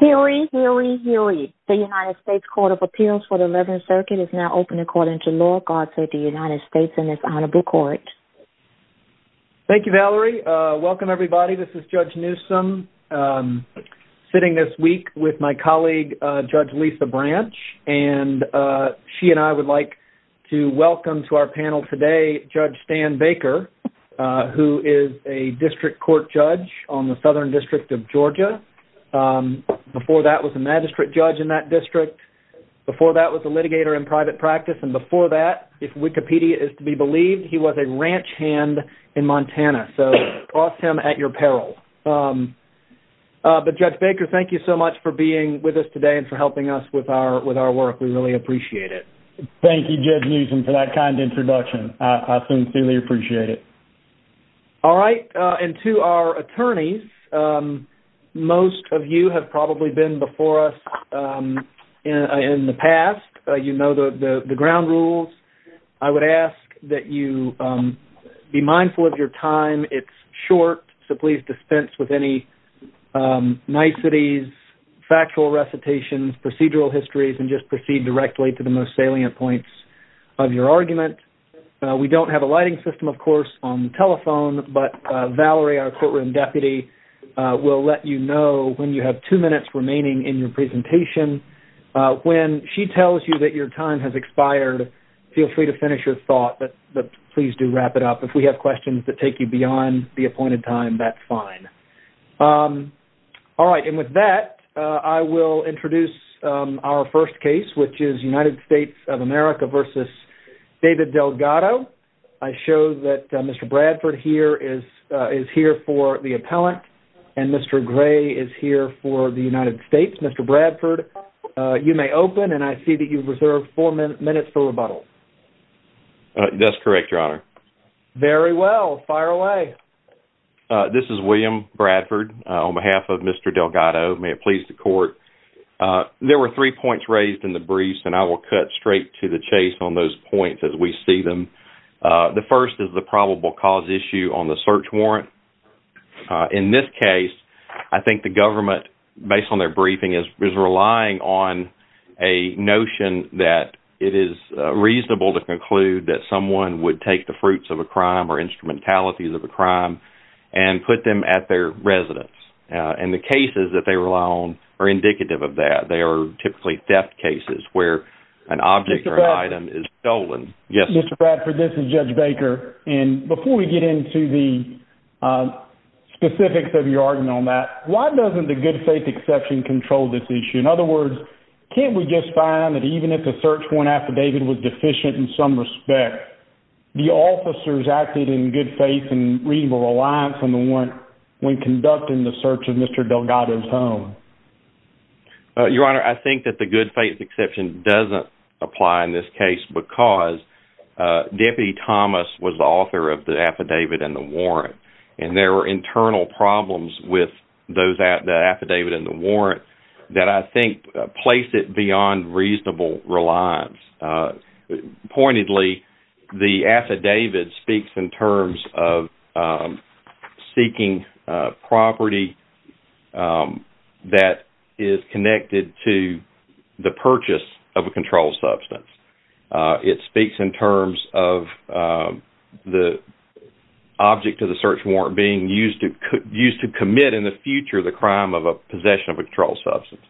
Hillary Hillary Hillary the United States Court of Appeals for the 11th Circuit is now open according to law. God save the United States and it's honorable court. Thank you Valerie. Welcome everybody this is Judge Newsom sitting this week with my colleague Judge Lisa Branch and she and I would like to welcome to our panel today Judge Stan Baker who is a district court judge on the southern district of Georgia. Before that was a magistrate judge in that district. Before that was a litigator in private practice and before that if Wikipedia is to be believed he was a ranch hand in Montana so cross him at your peril. But Judge Baker thank you so much for being with us today and for helping us with our with our work we really appreciate it. Thank you Judge Newsom for that kind introduction. I sincerely appreciate it. All right and to our attorneys most of you have probably been before us in the past. You know the the ground rules. I would ask that you be mindful of your time. It's short so please dispense with any niceties, factual recitations, procedural histories and just proceed directly to the most salient points of your argument. We don't have a lighting system of course on the telephone but Valerie our courtroom deputy will let you know when you have two minutes remaining in your presentation. When she tells you that your time has expired feel free to finish your thought but please do wrap it up. If we have questions that take you beyond the appointed time that's fine. All right and with that I will introduce our first case which is United States of America versus David Delgado. I show that Mr. Bradford here is is here for the appellant and Mr. Gray is here for the United States. Mr. Bradford you may open and I see that you've reserved four minutes for rebuttal. That's correct your honor. Very well fire away. This is William Bradford on behalf of Mr. Delgado. May it please the court. There were three points raised in the briefs and I will cut straight to the chase on those points as we see them. The first is the probable cause issue on the search warrant. In this case I think the government based on their briefing is relying on a notion that it is reasonable to conclude that someone would take the fruits of a crime or instrumentalities of a crime and put them at their residence and the cases that they rely on are indicative of that. They are typically theft cases where an object or item is stolen. Yes. Mr. Bradford this is Judge Baker and before we get into the specifics of your argument on that why doesn't the good faith exception control this issue? In other words can't we just find that even if the search warrant affidavit was deficient in some respect the officers acted in good faith and reasonable reliance on one when conducting the search of Mr. Delgado's home? Your Honor I think that the good faith exception doesn't apply in this case because Deputy Thomas was the author of the affidavit and the warrant and there were internal problems with those at the affidavit and the warrant that I think placed it beyond reasonable reliance. Pointedly the affidavit speaks in terms of seeking property that is connected to the purchase of a controlled substance. It speaks in terms of the object of the search warrant being used to commit in the future the crime of a possession of a controlled substance.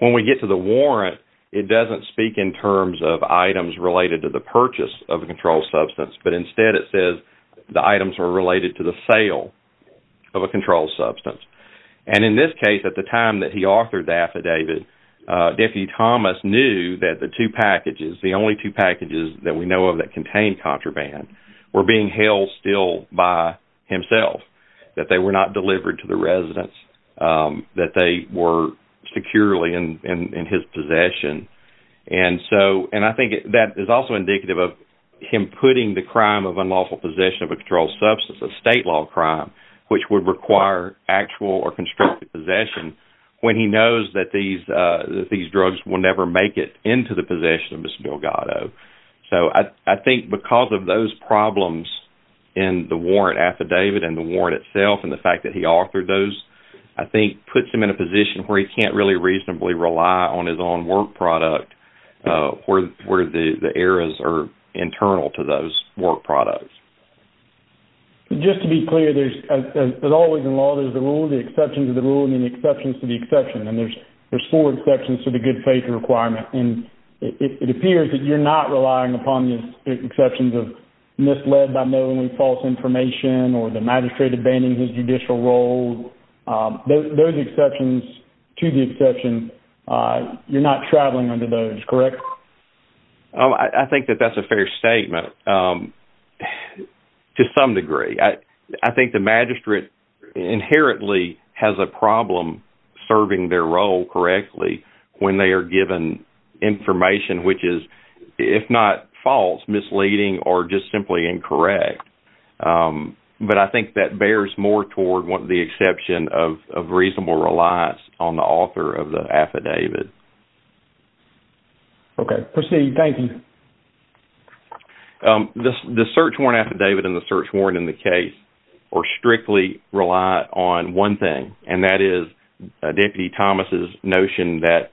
When we get to the warrant it doesn't speak in terms of items related to the purchase of a controlled substance but instead it says the items were related to the sale of a controlled substance and in this case at the time that he authored the affidavit Deputy Thomas knew that the two packages the only two packages that we know of that contain contraband were being held still by himself that they were not his possession and so and I think that is also indicative of him putting the crime of unlawful possession of a controlled substance a state law crime which would require actual or constructive possession when he knows that these these drugs will never make it into the possession of Mr. Delgado. So I think because of those problems in the warrant affidavit and the warrant itself and the fact that he authored those I think puts him in a position where he can't really reasonably rely on his own work product where the errors are internal to those work products. Just to be clear there's as always in law there's the rule the exceptions of the rule and the exceptions to the exception and there's four exceptions to the good faith requirement and it appears that you're not relying upon the exceptions of misled by knowingly false information or the magistrate abandons his judicial role those exceptions to the exception you're not traveling under those correct? I think that that's a fair statement to some degree I I think the magistrate inherently has a problem serving their role correctly when they are given information which is if not false misleading or just simply incorrect but I think that bears more toward what the exception of reasonable reliance on the author of the affidavit. Okay proceed thank you. The search warrant affidavit and the search warrant in the case or strictly rely on one thing and that is Deputy Thomas's notion that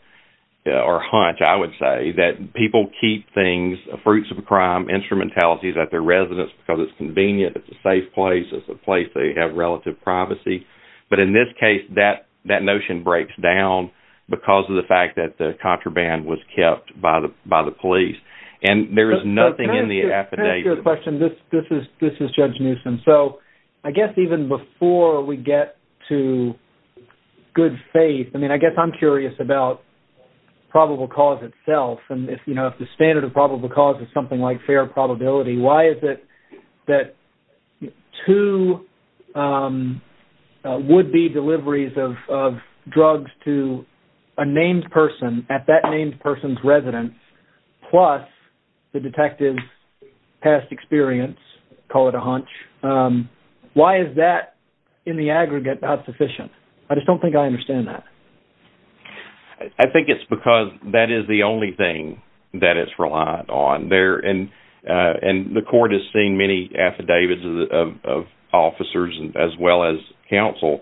or hunch I would say that people keep things fruits of crime instrumentality that their residence because it's convenient it's a safe place it's a place they have relative privacy but in this case that that notion breaks down because of the fact that the contraband was kept by the by the police and there is nothing in the affidavit. This is Judge Newsom so I guess even before we get to good faith I mean I guess I'm curious about probable cause itself and if you know if the standard of probable cause is something like fair probability why is it that two would-be deliveries of drugs to a named person at that named person's residence plus the detective's past experience call it a hunch why is that in the aggregate not sufficient I just don't think I understand that. I think it's because that is the only thing that it's reliant on there and and the court has seen many affidavits of officers as well as counsel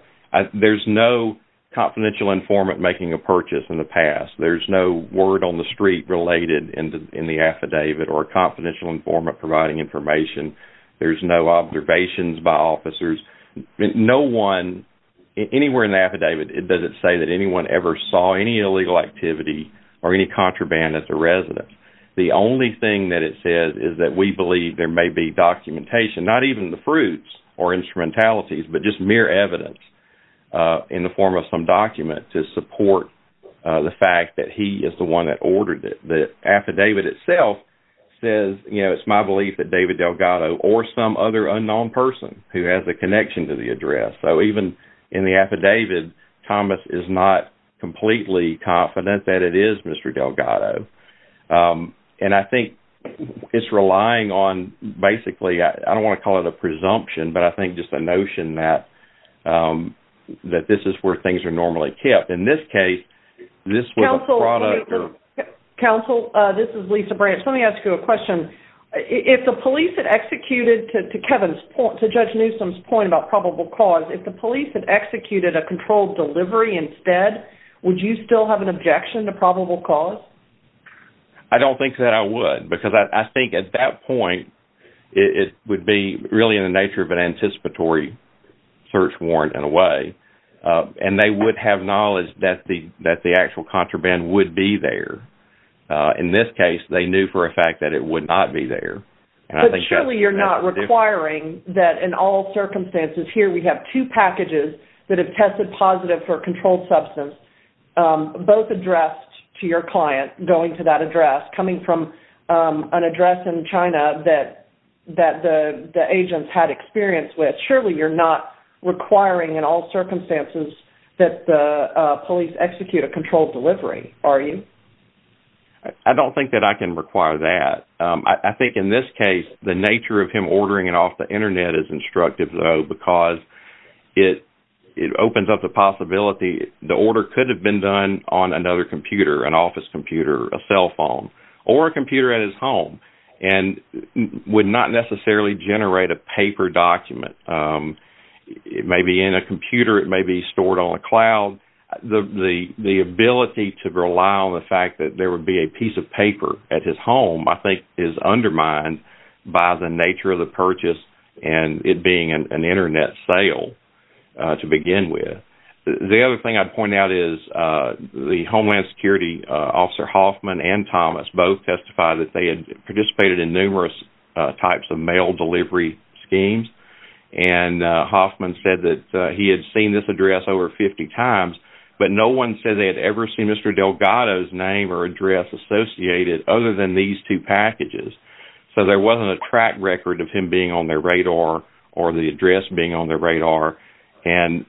there's no confidential informant making a purchase in the past there's no word on the street related in the in the affidavit or confidential informant providing information there's no observations by officers no one anywhere in the affidavit it doesn't say that anyone ever saw any illegal activity or any contraband at the residence the only thing that it says is that we believe there may be documentation not even the fruits or instrumentalities but just mere evidence in the form of some document to support the fact that he is the one that ordered it the affidavit itself says you know it's my belief that David Delgado or some other unknown person who has a connection to the address so even in the affidavit Thomas is not completely confident that it is mr. Delgado and I think it's relying on basically I don't want to call it a presumption but I think just a notion that that this is where things are normally kept in this case this was a product or counsel this is Lisa branch let me ask you a question if the police had executed to Kevin's point to judge Newsom's point about probable cause if the police had executed a controlled delivery instead would you still have an objection to probable cause I don't think that I would because I think at that point it would be really in the nature of an anticipatory search warrant in a way and they would have knowledge that the that the actual contraband would be there in this case they knew for a fact that it would not be there and I think surely you're not requiring that in all circumstances here we have two packages that have tested positive for controlled substance both addressed to your client going to that address coming from an address in China that that the the agents had experience with surely you're not requiring in all circumstances that the police execute a controlled delivery are you I don't think that I can require that I think in this case the nature of him ordering it off the internet is instructive though because it it opens up the possibility the order could have been done on another computer an office computer a cell phone or a computer at his home and would not necessarily generate a paper document it may be in a computer it may be stored on a cloud the the ability to rely on the fact that there would be a piece of paper at his home I think is undermined by the nature of the purchase and it being an internet sale to begin with the other thing I'd point out is the Homeland Security officer Hoffman and Thomas both testified that they had participated in numerous types of mail delivery schemes and Hoffman said that he had seen this address over 50 times but no one said they had ever seen mr. Delgado's name or address associated other than these two packages so there wasn't a track record of him being on their radar or the address being on their radar and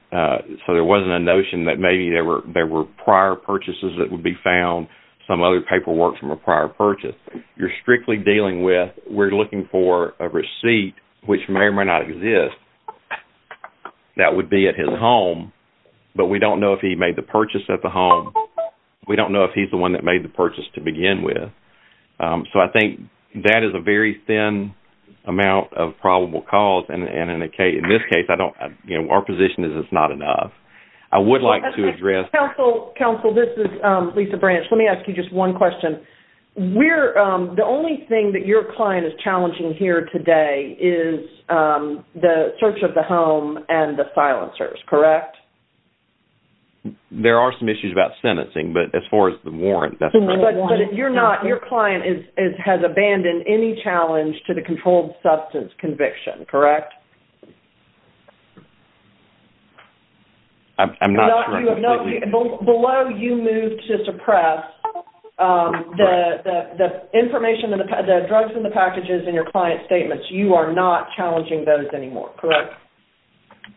so there wasn't a notion that maybe there were there were prior purchases that would be found some other paperwork from a prior purchase you're strictly dealing with we're looking for a receipt which may or may not exist that would be at his home but we don't know if he made the purchase at the home we don't know if he's the one that made the purchase to begin with so I think that is a very thin amount of probable cause and in this case I don't you know our position is it's not enough I would like to address counsel counsel this is Lisa branch let me ask you just one question we're the only thing that your client is today is the search of the home and the silencers correct there are some issues about sentencing but as far as the warrant that's what you're not your client is it has abandoned any challenge to the controlled substance conviction correct I'm not below you move to suppress the information that the drugs in the packages in your client statements you are not challenging those anymore correct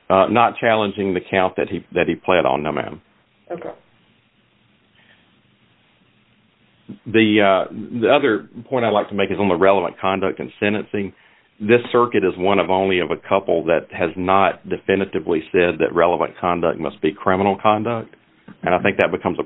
not challenging the count that he that he played on no ma'am the the other point I like to make is on the relevant conduct and sentencing this circuit is one of only of a couple that has not definitively said that relevant conduct must be criminal conduct and I think that becomes a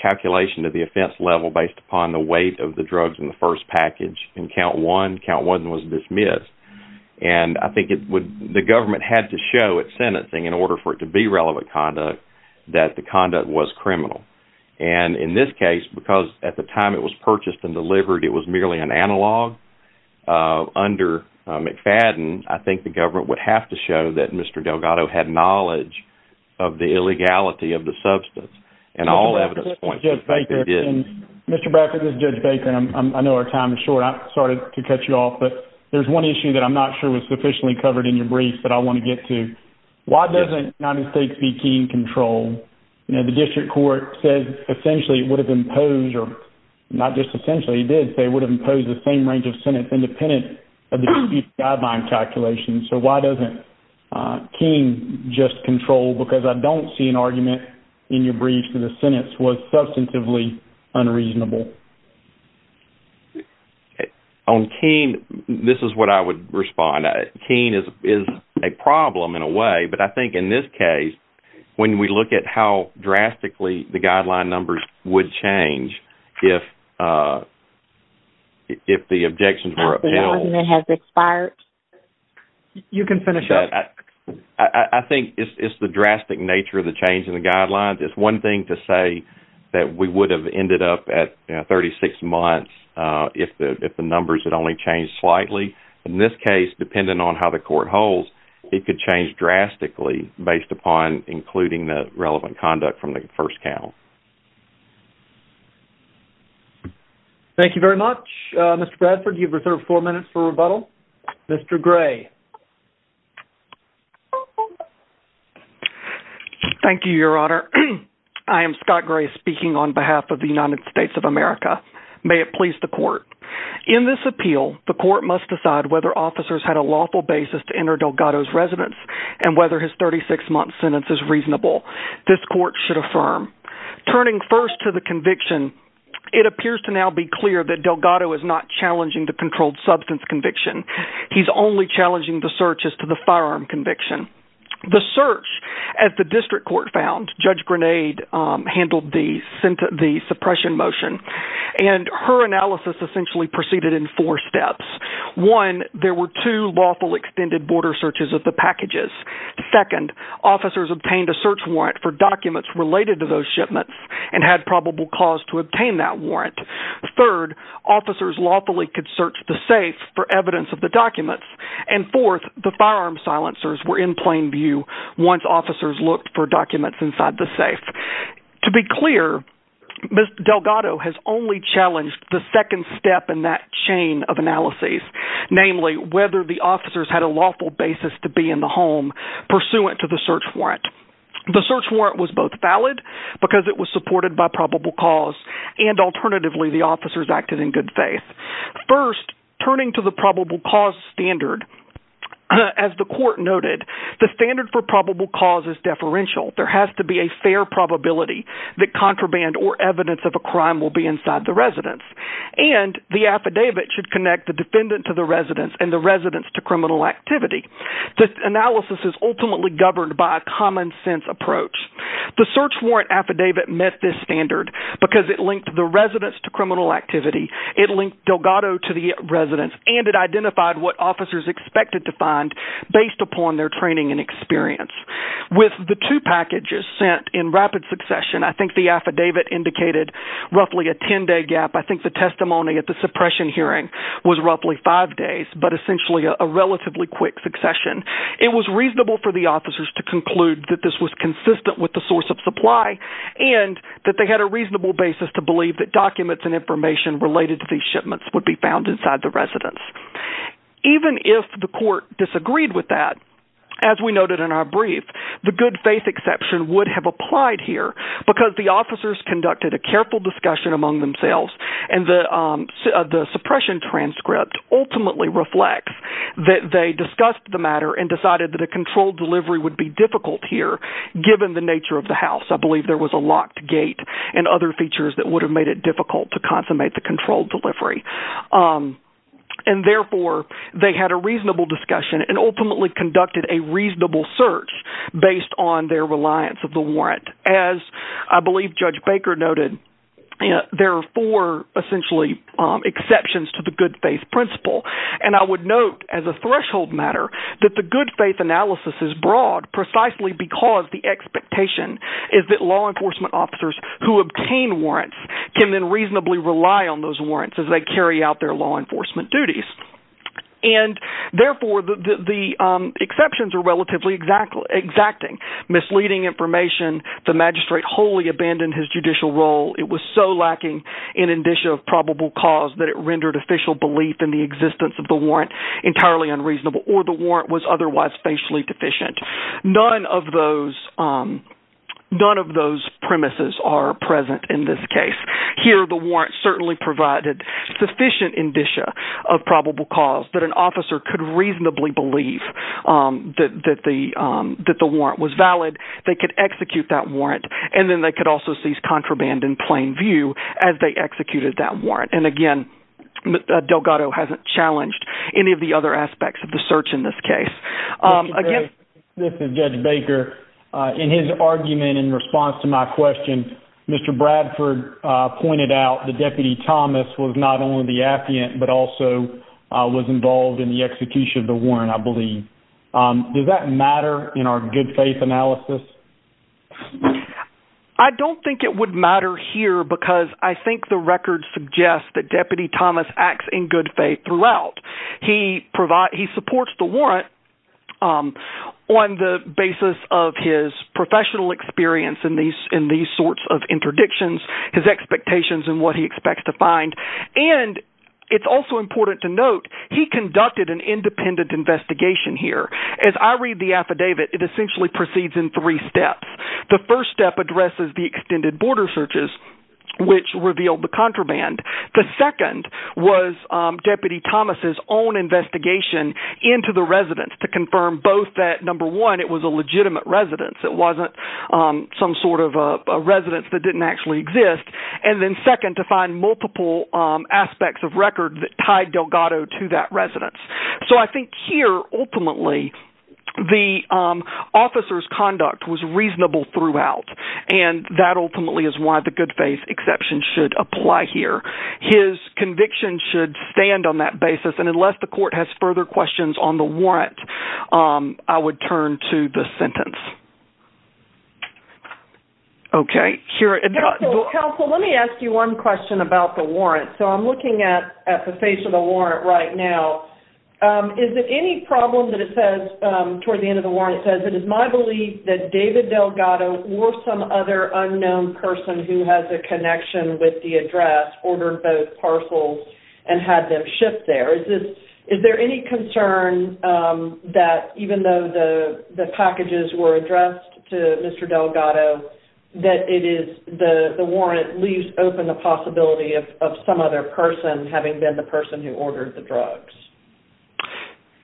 calculation of the offense level based upon the weight of the drugs in the first package in count one count one was dismissed and I think it would the government had to show it sentencing in order for it to be relevant conduct that the conduct was criminal and in this case because at the time it was purchased and delivered it was merely an analog under McFadden I think the government would have to show that mr. Delgado had knowledge of the illegality of the substance and all evidence thank you mr. Brackett is judge Baker and I know our time is short I started to cut you off but there's one issue that I'm not sure was sufficiently covered in your brief that I want to get to why doesn't 90 states be keen control you know the district court said essentially it would have imposed or not just essentially did they would have imposed the same range of sentence independent of the guideline calculations so why doesn't King just control because I don't see an argument in your brief for the sentence was substantively unreasonable on keen this is what I would respond a keen is is a problem in a way but I think in this case when we look at how drastically the guideline numbers would change if if the objections were it has expired you can finish up I think it's the drastic nature of the change in the guidelines it's one thing to say that we would have ended up at 36 months if the if the numbers had only changed slightly in this case depending on how the court holds it could change drastically based upon including the relevant conduct from the first count thank you very much mr. thank you your honor I am Scott gray speaking on behalf of the United States of America may it please the court in this appeal the court must decide whether officers had a lawful basis to enter Delgado's residence and whether his 36 month sentence is reasonable this court should affirm turning first to the conviction it appears to now be clear that Delgado is not challenging the controlled substance conviction he's only challenging the searches to the district court found judge grenade handled the suppression motion and her analysis essentially proceeded in four steps one there were two lawful extended border searches of the packages second officers obtained a search warrant for documents related to those shipments and had probable cause to obtain that warrant third officers lawfully could search the safe for evidence of the documents and fourth the firearm silencers were in plain view once officers looked for documents inside the safe to be clear but Delgado has only challenged the second step in that chain of analysis namely whether the officers had a lawful basis to be in the home pursuant to the search warrant the search warrant was both valid because it was supported by probable cause and alternatively the officers acted in good faith first turning to the probable cause standard as the court noted the standard for probable cause is deferential there has to be a fair probability that contraband or evidence of a crime will be inside the residence and the affidavit should connect the defendant to the residence and the residence to criminal activity this analysis is ultimately governed by a common-sense approach the search warrant affidavit met this standard because it linked the residence to criminal activity it linked Delgado to the residence and it identified what officers expected to find based upon their training and experience with the two packages sent in rapid succession I think the affidavit indicated roughly a 10-day gap I think the testimony at the suppression hearing was roughly five days but essentially a relatively quick succession it was reasonable for the officers to conclude that this was consistent with the source of supply and that they had a reasonable basis to believe that documents and information related to these shipments would be found inside the residence even if the court disagreed with that as we noted in our brief the good-faith exception would have applied here because the officers conducted a careful discussion among themselves and the suppression transcript ultimately reflects that they discussed the matter and decided that a controlled delivery would be difficult here given the nature of the house I believe there was a locked gate and other features that would have made it difficult to consummate the control delivery and therefore they had a reasonable discussion and ultimately conducted a reasonable search based on their reliance of the warrant as I believe Judge Baker noted there are four essentially exceptions to the good-faith principle and I would note as a threshold matter that the good-faith analysis is broad precisely because the expectation is that law enforcement officers who obtain warrants can then reasonably rely on those warrants as they carry out their law enforcement duties and therefore the exceptions are relatively exacting misleading information the magistrate wholly abandoned his judicial role it was so lacking in indicia of probable cause that it rendered official belief in the existence of the warrant entirely unreasonable or the warrant was otherwise facially deficient none of those none of those premises are present in this case here the warrant certainly provided sufficient indicia of probable cause that an officer could reasonably believe that the that the warrant was valid they could execute that warrant and then they could also seize contraband in plain view as they executed that warrant and again Delgado hasn't challenged any of the other aspects of the search in this case again this is Judge Baker in his argument in response to my question mr. Bradford pointed out the deputy Thomas was not only the affiant but also was involved in the execution of the warrant I believe does that matter in our good-faith analysis I don't think it would matter here because I think the record suggests that deputy Thomas acts in good faith throughout he provides he supports the warrant on the basis of his professional experience in these in these sorts of interdictions his expectations and what he expects to find and it's also important to note he conducted an independent investigation here as I read the affidavit it essentially proceeds in three steps the first step addresses the extended border searches which revealed the contraband the second was deputy Thomas's own investigation into the residence to confirm both that number one it was a legitimate residence it wasn't some sort of a residence that didn't actually exist and then second to find multiple aspects of record that tied Delgado to that residence so I think here ultimately the officers conduct was reasonable throughout and that ultimately is why the good-faith exception should apply here his conviction should stand on that basis and unless the court has further questions on the warrant I would turn to the sentence okay here let me ask you one question about the warrant so I'm looking at at the face of the warrant right now is there any problem that it toward the end of the warrant says it is my belief that David Delgado or some other unknown person who has a connection with the address ordered both parcels and had them shipped there is this is there any concern that even though the the packages were addressed to mr. Delgado that it is the the warrant leaves open the possibility of some other person having been the person who ordered the drugs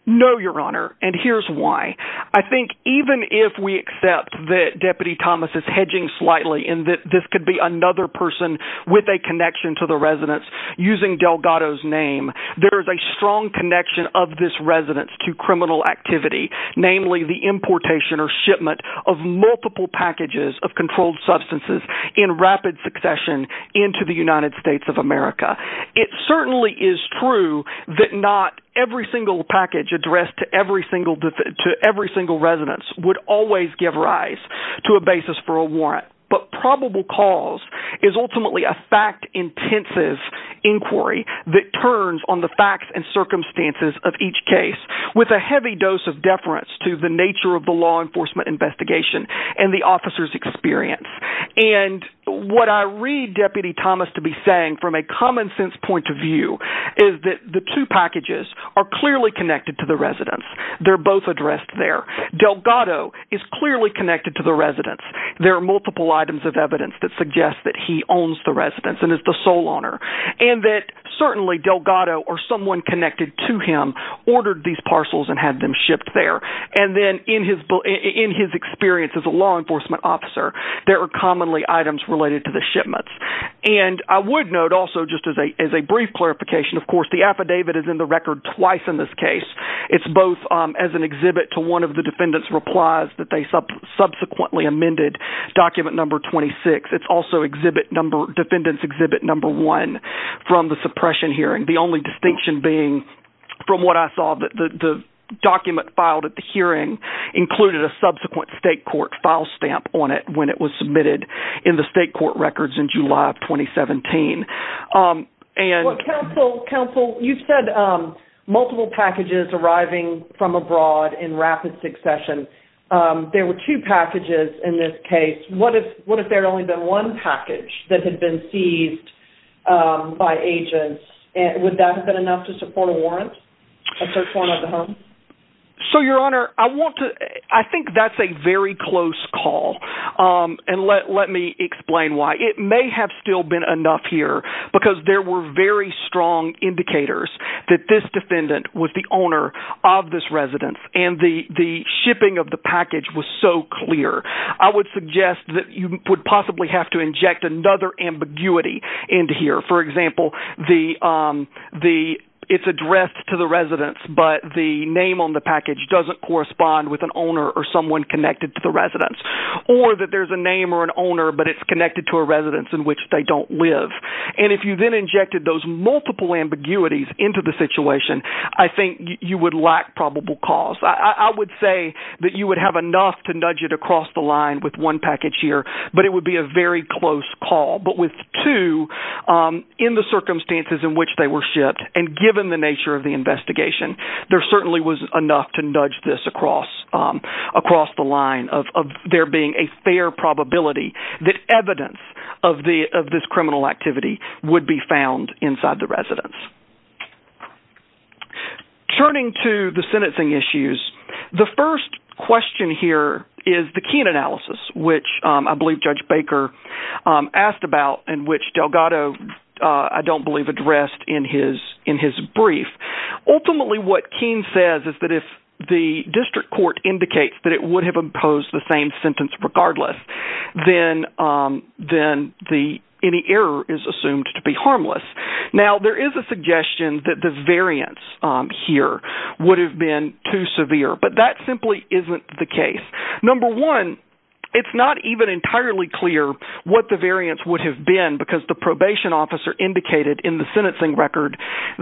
no your honor and here's why I think even if we accept that deputy Thomas is hedging slightly in that this could be another person with a connection to the residence using Delgado's name there is a strong connection of this residence to criminal activity namely the importation or shipment of multiple packages of controlled substances in rapid succession into the United States of America it certainly is true that not every single package addressed to every single to every single residence would always give rise to a basis for a warrant but probable cause is ultimately a fact-intensive inquiry that turns on the facts and circumstances of each case with a heavy dose of deference to the nature of the law enforcement investigation and the officers experience and what I read deputy Thomas to be saying from a common-sense point of view is that the two packages are clearly connected to the residence they're both addressed there Delgado is clearly connected to the residence there are multiple items of evidence that suggest that he owns the residence and is the sole owner and that certainly Delgado or someone connected to him ordered these parcels and had them experience as a law enforcement officer there are commonly items related to the shipments and I would note also just as a brief clarification of course the affidavit is in the record twice in this case it's both as an exhibit to one of the defendants replies that they subsequently amended document number 26 it's also exhibit number defendants exhibit number one from the suppression hearing the only distinction being from what I saw that the document filed at the hearing included a subsequent state court file stamp on it when it was submitted in the state court records in July of 2017 and counsel counsel you said multiple packages arriving from abroad in rapid succession there were two packages in this case what if what if there only been one package that had been seized by agents and would that have been enough to support a warrant so your honor I want to I think that's a very close call and let me explain why it may have still been enough here because there were very strong indicators that this defendant was the owner of this residence and the the shipping of the package was so clear I would suggest that you would possibly have to inject another ambiguity into here for example the the it's addressed to the residents but the name on the package doesn't correspond with an owner or someone connected to the residence or that there's a name or an owner but it's connected to a residence in which they don't live and if you then injected those multiple ambiguities into the situation I think you would lack probable cause I would say that you would have enough to nudge it across the line with one package here but it would be a very close call but with two in the investigation there certainly was enough to nudge this across across the line of there being a fair probability that evidence of the of this criminal activity would be found inside the residence turning to the sentencing issues the first question here is the keen analysis which I believe Judge Baker asked about in which Delgado I don't believe addressed in his in his brief ultimately what King says is that if the district court indicates that it would have imposed the same sentence regardless then then the any error is assumed to be harmless now there is a suggestion that the variance here would have been too severe but that simply isn't the case number one it's not even entirely clear what the variance would have been because the probation officer indicated in the sentencing record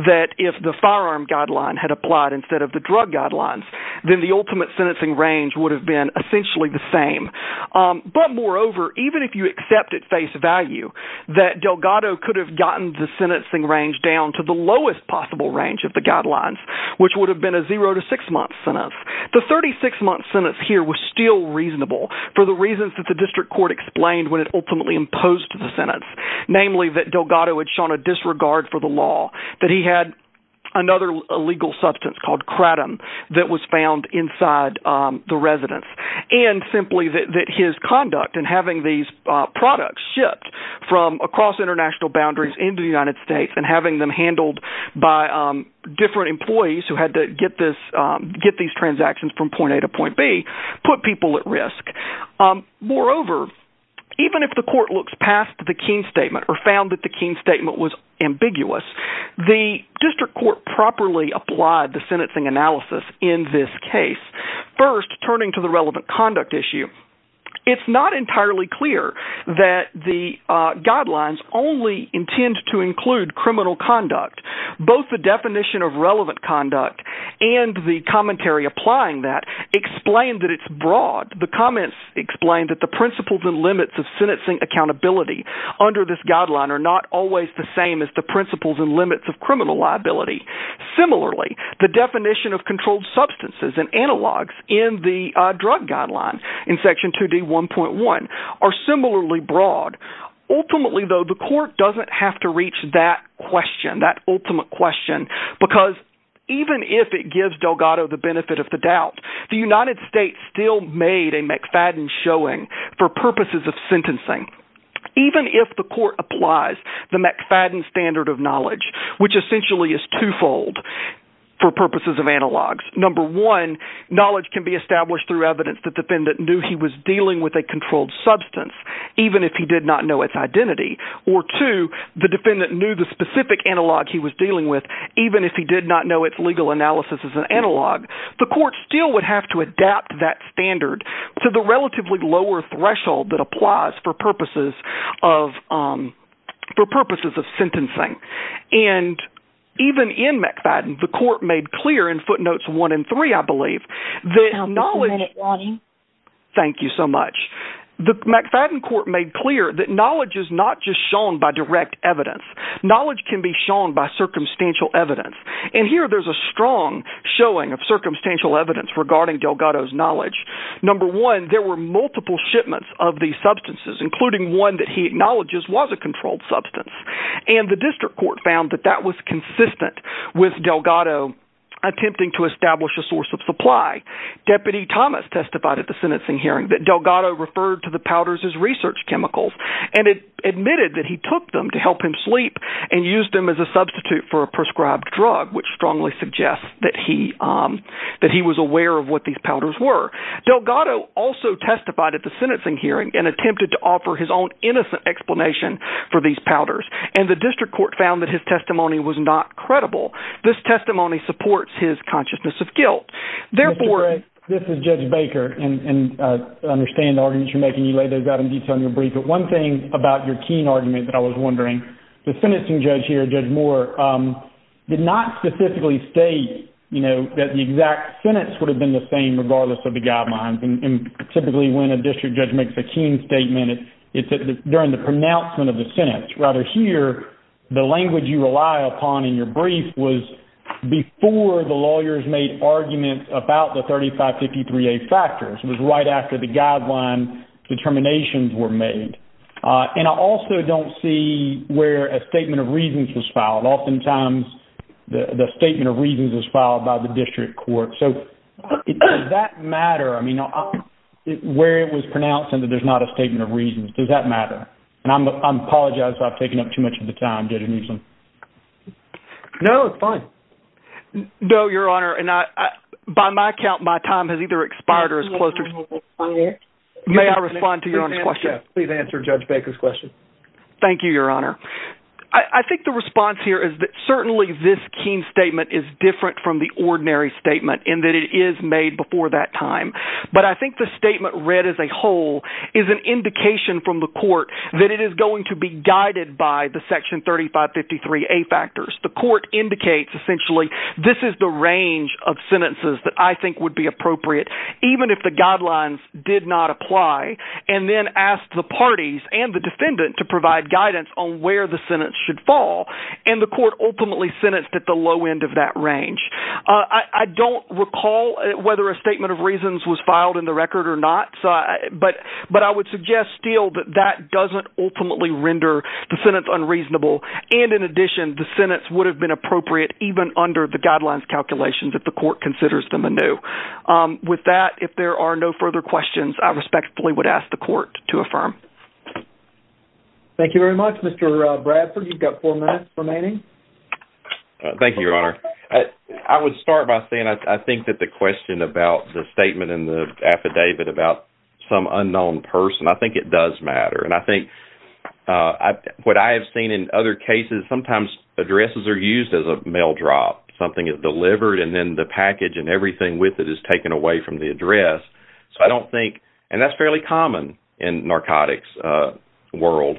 that if the firearm guideline had applied instead of the drug guidelines then the ultimate sentencing range would have been essentially the same but moreover even if you accept at face value that Delgado could have gotten the sentencing range down to the lowest possible range of the guidelines which would have been a zero to six month sentence the 36 month sentence here was still reasonable for the reasons that the district court explained when it ultimately imposed the sentence namely that Delgado had shown a disregard for the law that he had another legal substance called kratom that was found inside the residence and simply that that his conduct in having these products shipped from across international boundaries in the United States and having them handled by different employees who had to get this get these transactions from point A to point B put people at risk moreover even if the court looks past the Keene statement or found that the Keene statement was ambiguous the district court properly applied the sentencing analysis in this case first turning to the relevant conduct issue it's not entirely clear that the guidelines only intend to include criminal conduct both the definition of relevant conduct and the commentary applying that explain that it's broad the comments explain that the principles and limits of sentencing accountability under this guideline are not always the same as the principles and limits of criminal liability similarly the definition of controlled substances and analogs in the drug guideline in section 2d 1.1 are similarly broad ultimately though the court doesn't have to reach that question that ultimate question because even if it gives Delgado the benefit of the doubt the United States still made a McFadden showing for purposes of sentencing even if the court applies the McFadden standard of knowledge which essentially is twofold for purposes of analogs number one knowledge can be established through evidence the defendant knew he was dealing with a controlled substance even if he did not know its identity or to the defendant knew the specific analog he was dealing with even if he did not know its legal analysis is an analog the court still would have to adapt that standard to the relatively lower threshold that applies for purposes of for purposes of sentencing and even in McFadden the court made clear in footnotes one and three I believe that knowledge thank you so much the McFadden court made clear that knowledge is not just shown by direct evidence knowledge can be shown by circumstantial evidence and here there's a strong showing of circumstantial evidence regarding Delgado's knowledge number one there were multiple shipments of these substances including one that he acknowledges was a controlled substance and the district court found that that was consistent with Delgado attempting to establish a source of supply deputy Thomas testified at the sentencing hearing that Delgado referred to the powders as research chemicals and it admitted that he took them to help him sleep and used them as a substitute for a prescribed drug which strongly suggests that he that he was aware of what these powders were Delgado also testified at the sentencing hearing and attempted to offer his own innocent explanation for these powders and the district court found that his testimony was not credible this testimony supports his consciousness of guilt therefore this is Judge Baker and understand arguments you're making you lay those out in detail in your brief but one thing about your keen argument that I was wondering the sentencing judge here judge Moore did not specifically state you know that the exact sentence would have been the same regardless of the guidelines and typically when a district judge makes a keen statement it's during the pronouncement of the sentence rather here the language you rely upon in your brief was before the lawyers made arguments about the 3553 a factors was right after the guideline determinations were made and I also don't see where a statement of reasons was filed oftentimes the statement of reasons was filed by the district court so that matter I mean where it was pronounced and that there's not a statement of reasons does that matter and I'm apologizing I've taken up too much of the time didn't you know it's fine no your honor and I by my account my time has either expired or as close may I respond to your question please answer judge Baker's question thank you your honor I think the response here is that certainly this keen statement is different from the ordinary statement in that it is made before that time but I think the statement read as a whole is an indication from the court that it is going to be guided by the section 3553 a factors the court indicates essentially this is the range of sentences that I think would be appropriate even if the guidelines did not apply and then asked the parties and the defendant to provide guidance on where the Senate should fall and the court ultimately sentenced at the low end of that range I don't recall whether a statement of reasons was filed in the record or not but but I would suggest still that that doesn't ultimately render the sentence unreasonable and in addition the sentence would have been appropriate even under the guidelines calculations if the court considers them a new with that if there are no further questions I respectfully would ask the court to affirm thank you very much mr. Bradford you've got four minutes remaining thank you your honor I would start by saying I think that the question about the statement in the affidavit about some unknown person I think it does matter and I think I what I have seen in other cases sometimes addresses are used as a mail drop something is delivered and then the package and everything with it is taken away from the address so I don't think and that's fairly common in narcotics world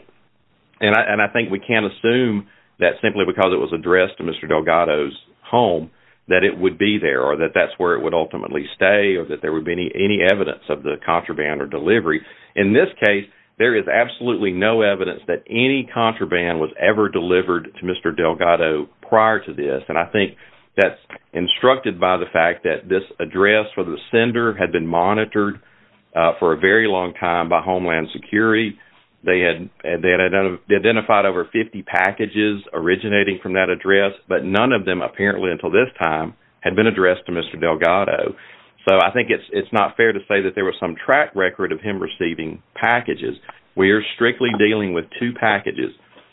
and I and I think we can't assume that simply because it was addressed to mr. Delgado's home that it would be there or that that's where it would ultimately stay or that there would be any any evidence of the contraband or delivery in this case there is absolutely no evidence that any contraband was ever delivered to mr. Delgado prior to this and I think that's instructed by the fact that this address for the sender had been monitored for a very long time by Homeland Security they had they had identified over 50 packages originating from that address but none of them apparently until this time had been addressed to mr. Delgado so I think it's it's not fair to say that there was some track record of him receiving packages we are strictly dealing with two packages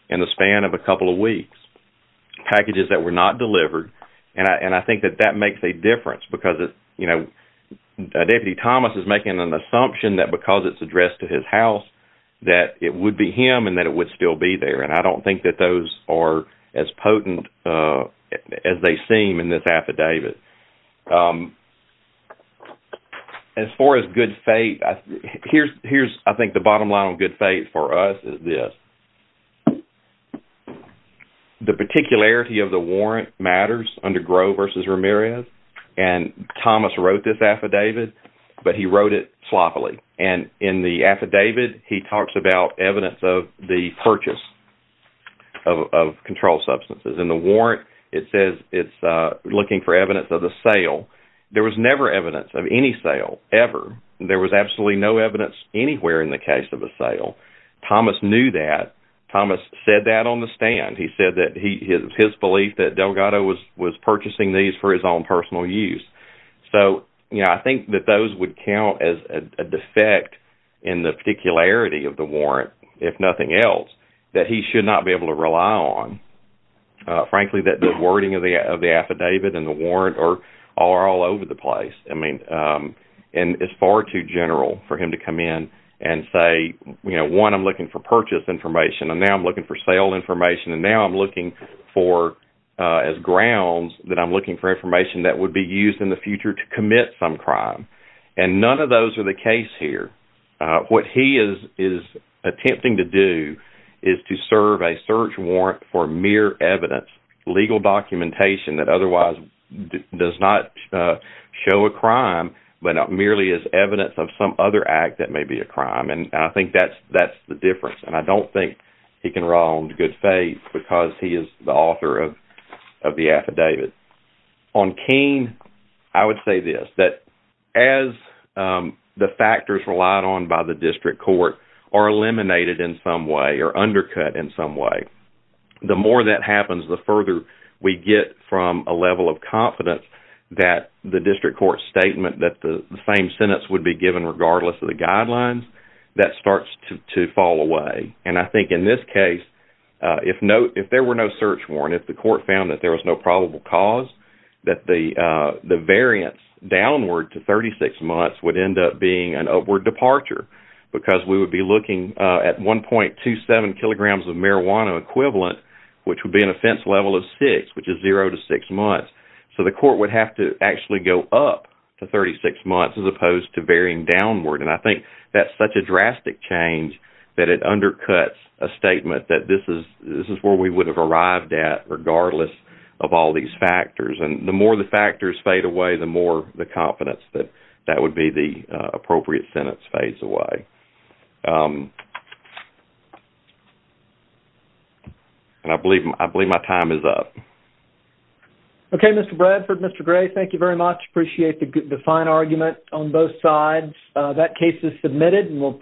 in the span of a couple of weeks packages that were not delivered and I and I think that that makes a difference because it you know deputy Thomas is making an assumption that because it's addressed to his house that it would be him and that it would still be there and I don't think that those are as potent as they seem in this affidavit as far as good faith here's I think the bottom line on good faith for us is this the particularity of the warrant matters under Grove versus Ramirez and Thomas wrote this affidavit but he wrote it sloppily and in the affidavit he talks about evidence of the purchase of controlled substances in the warrant it says it's looking for evidence of the sale there was never evidence of any sale ever there was absolutely no evidence anywhere in the case of a sale Thomas knew that Thomas said that on the stand he said that he his belief that Delgado was was purchasing these for his own personal use so you know I think that those would count as a defect in the particularity of the warrant if nothing else that he should not be able to rely on frankly that the wording of the of the affidavit and the warrant or are all over the place I mean and it's far too general for him to come in and say you know one I'm looking for purchase information and now I'm looking for sale information and now I'm looking for as grounds that I'm looking for information that would be used in the future to commit some crime and none of those are the case here what he is is attempting to do is to serve a warrant for mere evidence legal documentation that otherwise does not show a crime but not merely as evidence of some other act that may be a crime and I think that's that's the difference and I don't think he can wrong good faith because he is the author of the affidavit on keen I would say this that as the factors relied on by the district court are eliminated in some way or undercut in some way the more that happens the further we get from a level of confidence that the district court statement that the same sentence would be given regardless of the guidelines that starts to fall away and I think in this case if no if there were no search warrant if the court found that there was no probable cause that the the variance downward to 36 months would end up being an upward departure because we would be looking at 1.27 kilograms of marijuana equivalent which would be an offense level of 6 which is 0 to 6 months so the court would have to actually go up to 36 months as opposed to varying downward and I think that's such a drastic change that it undercuts a statement that this is this is where we would have arrived at regardless of all these factors and the more the factors fade away the more the confidence that that would be the appropriate sentence phase away and I believe I believe my time is up okay mr. Bradford mr. gray thank you very much appreciate the good define argument on both sides that case is submitted and we'll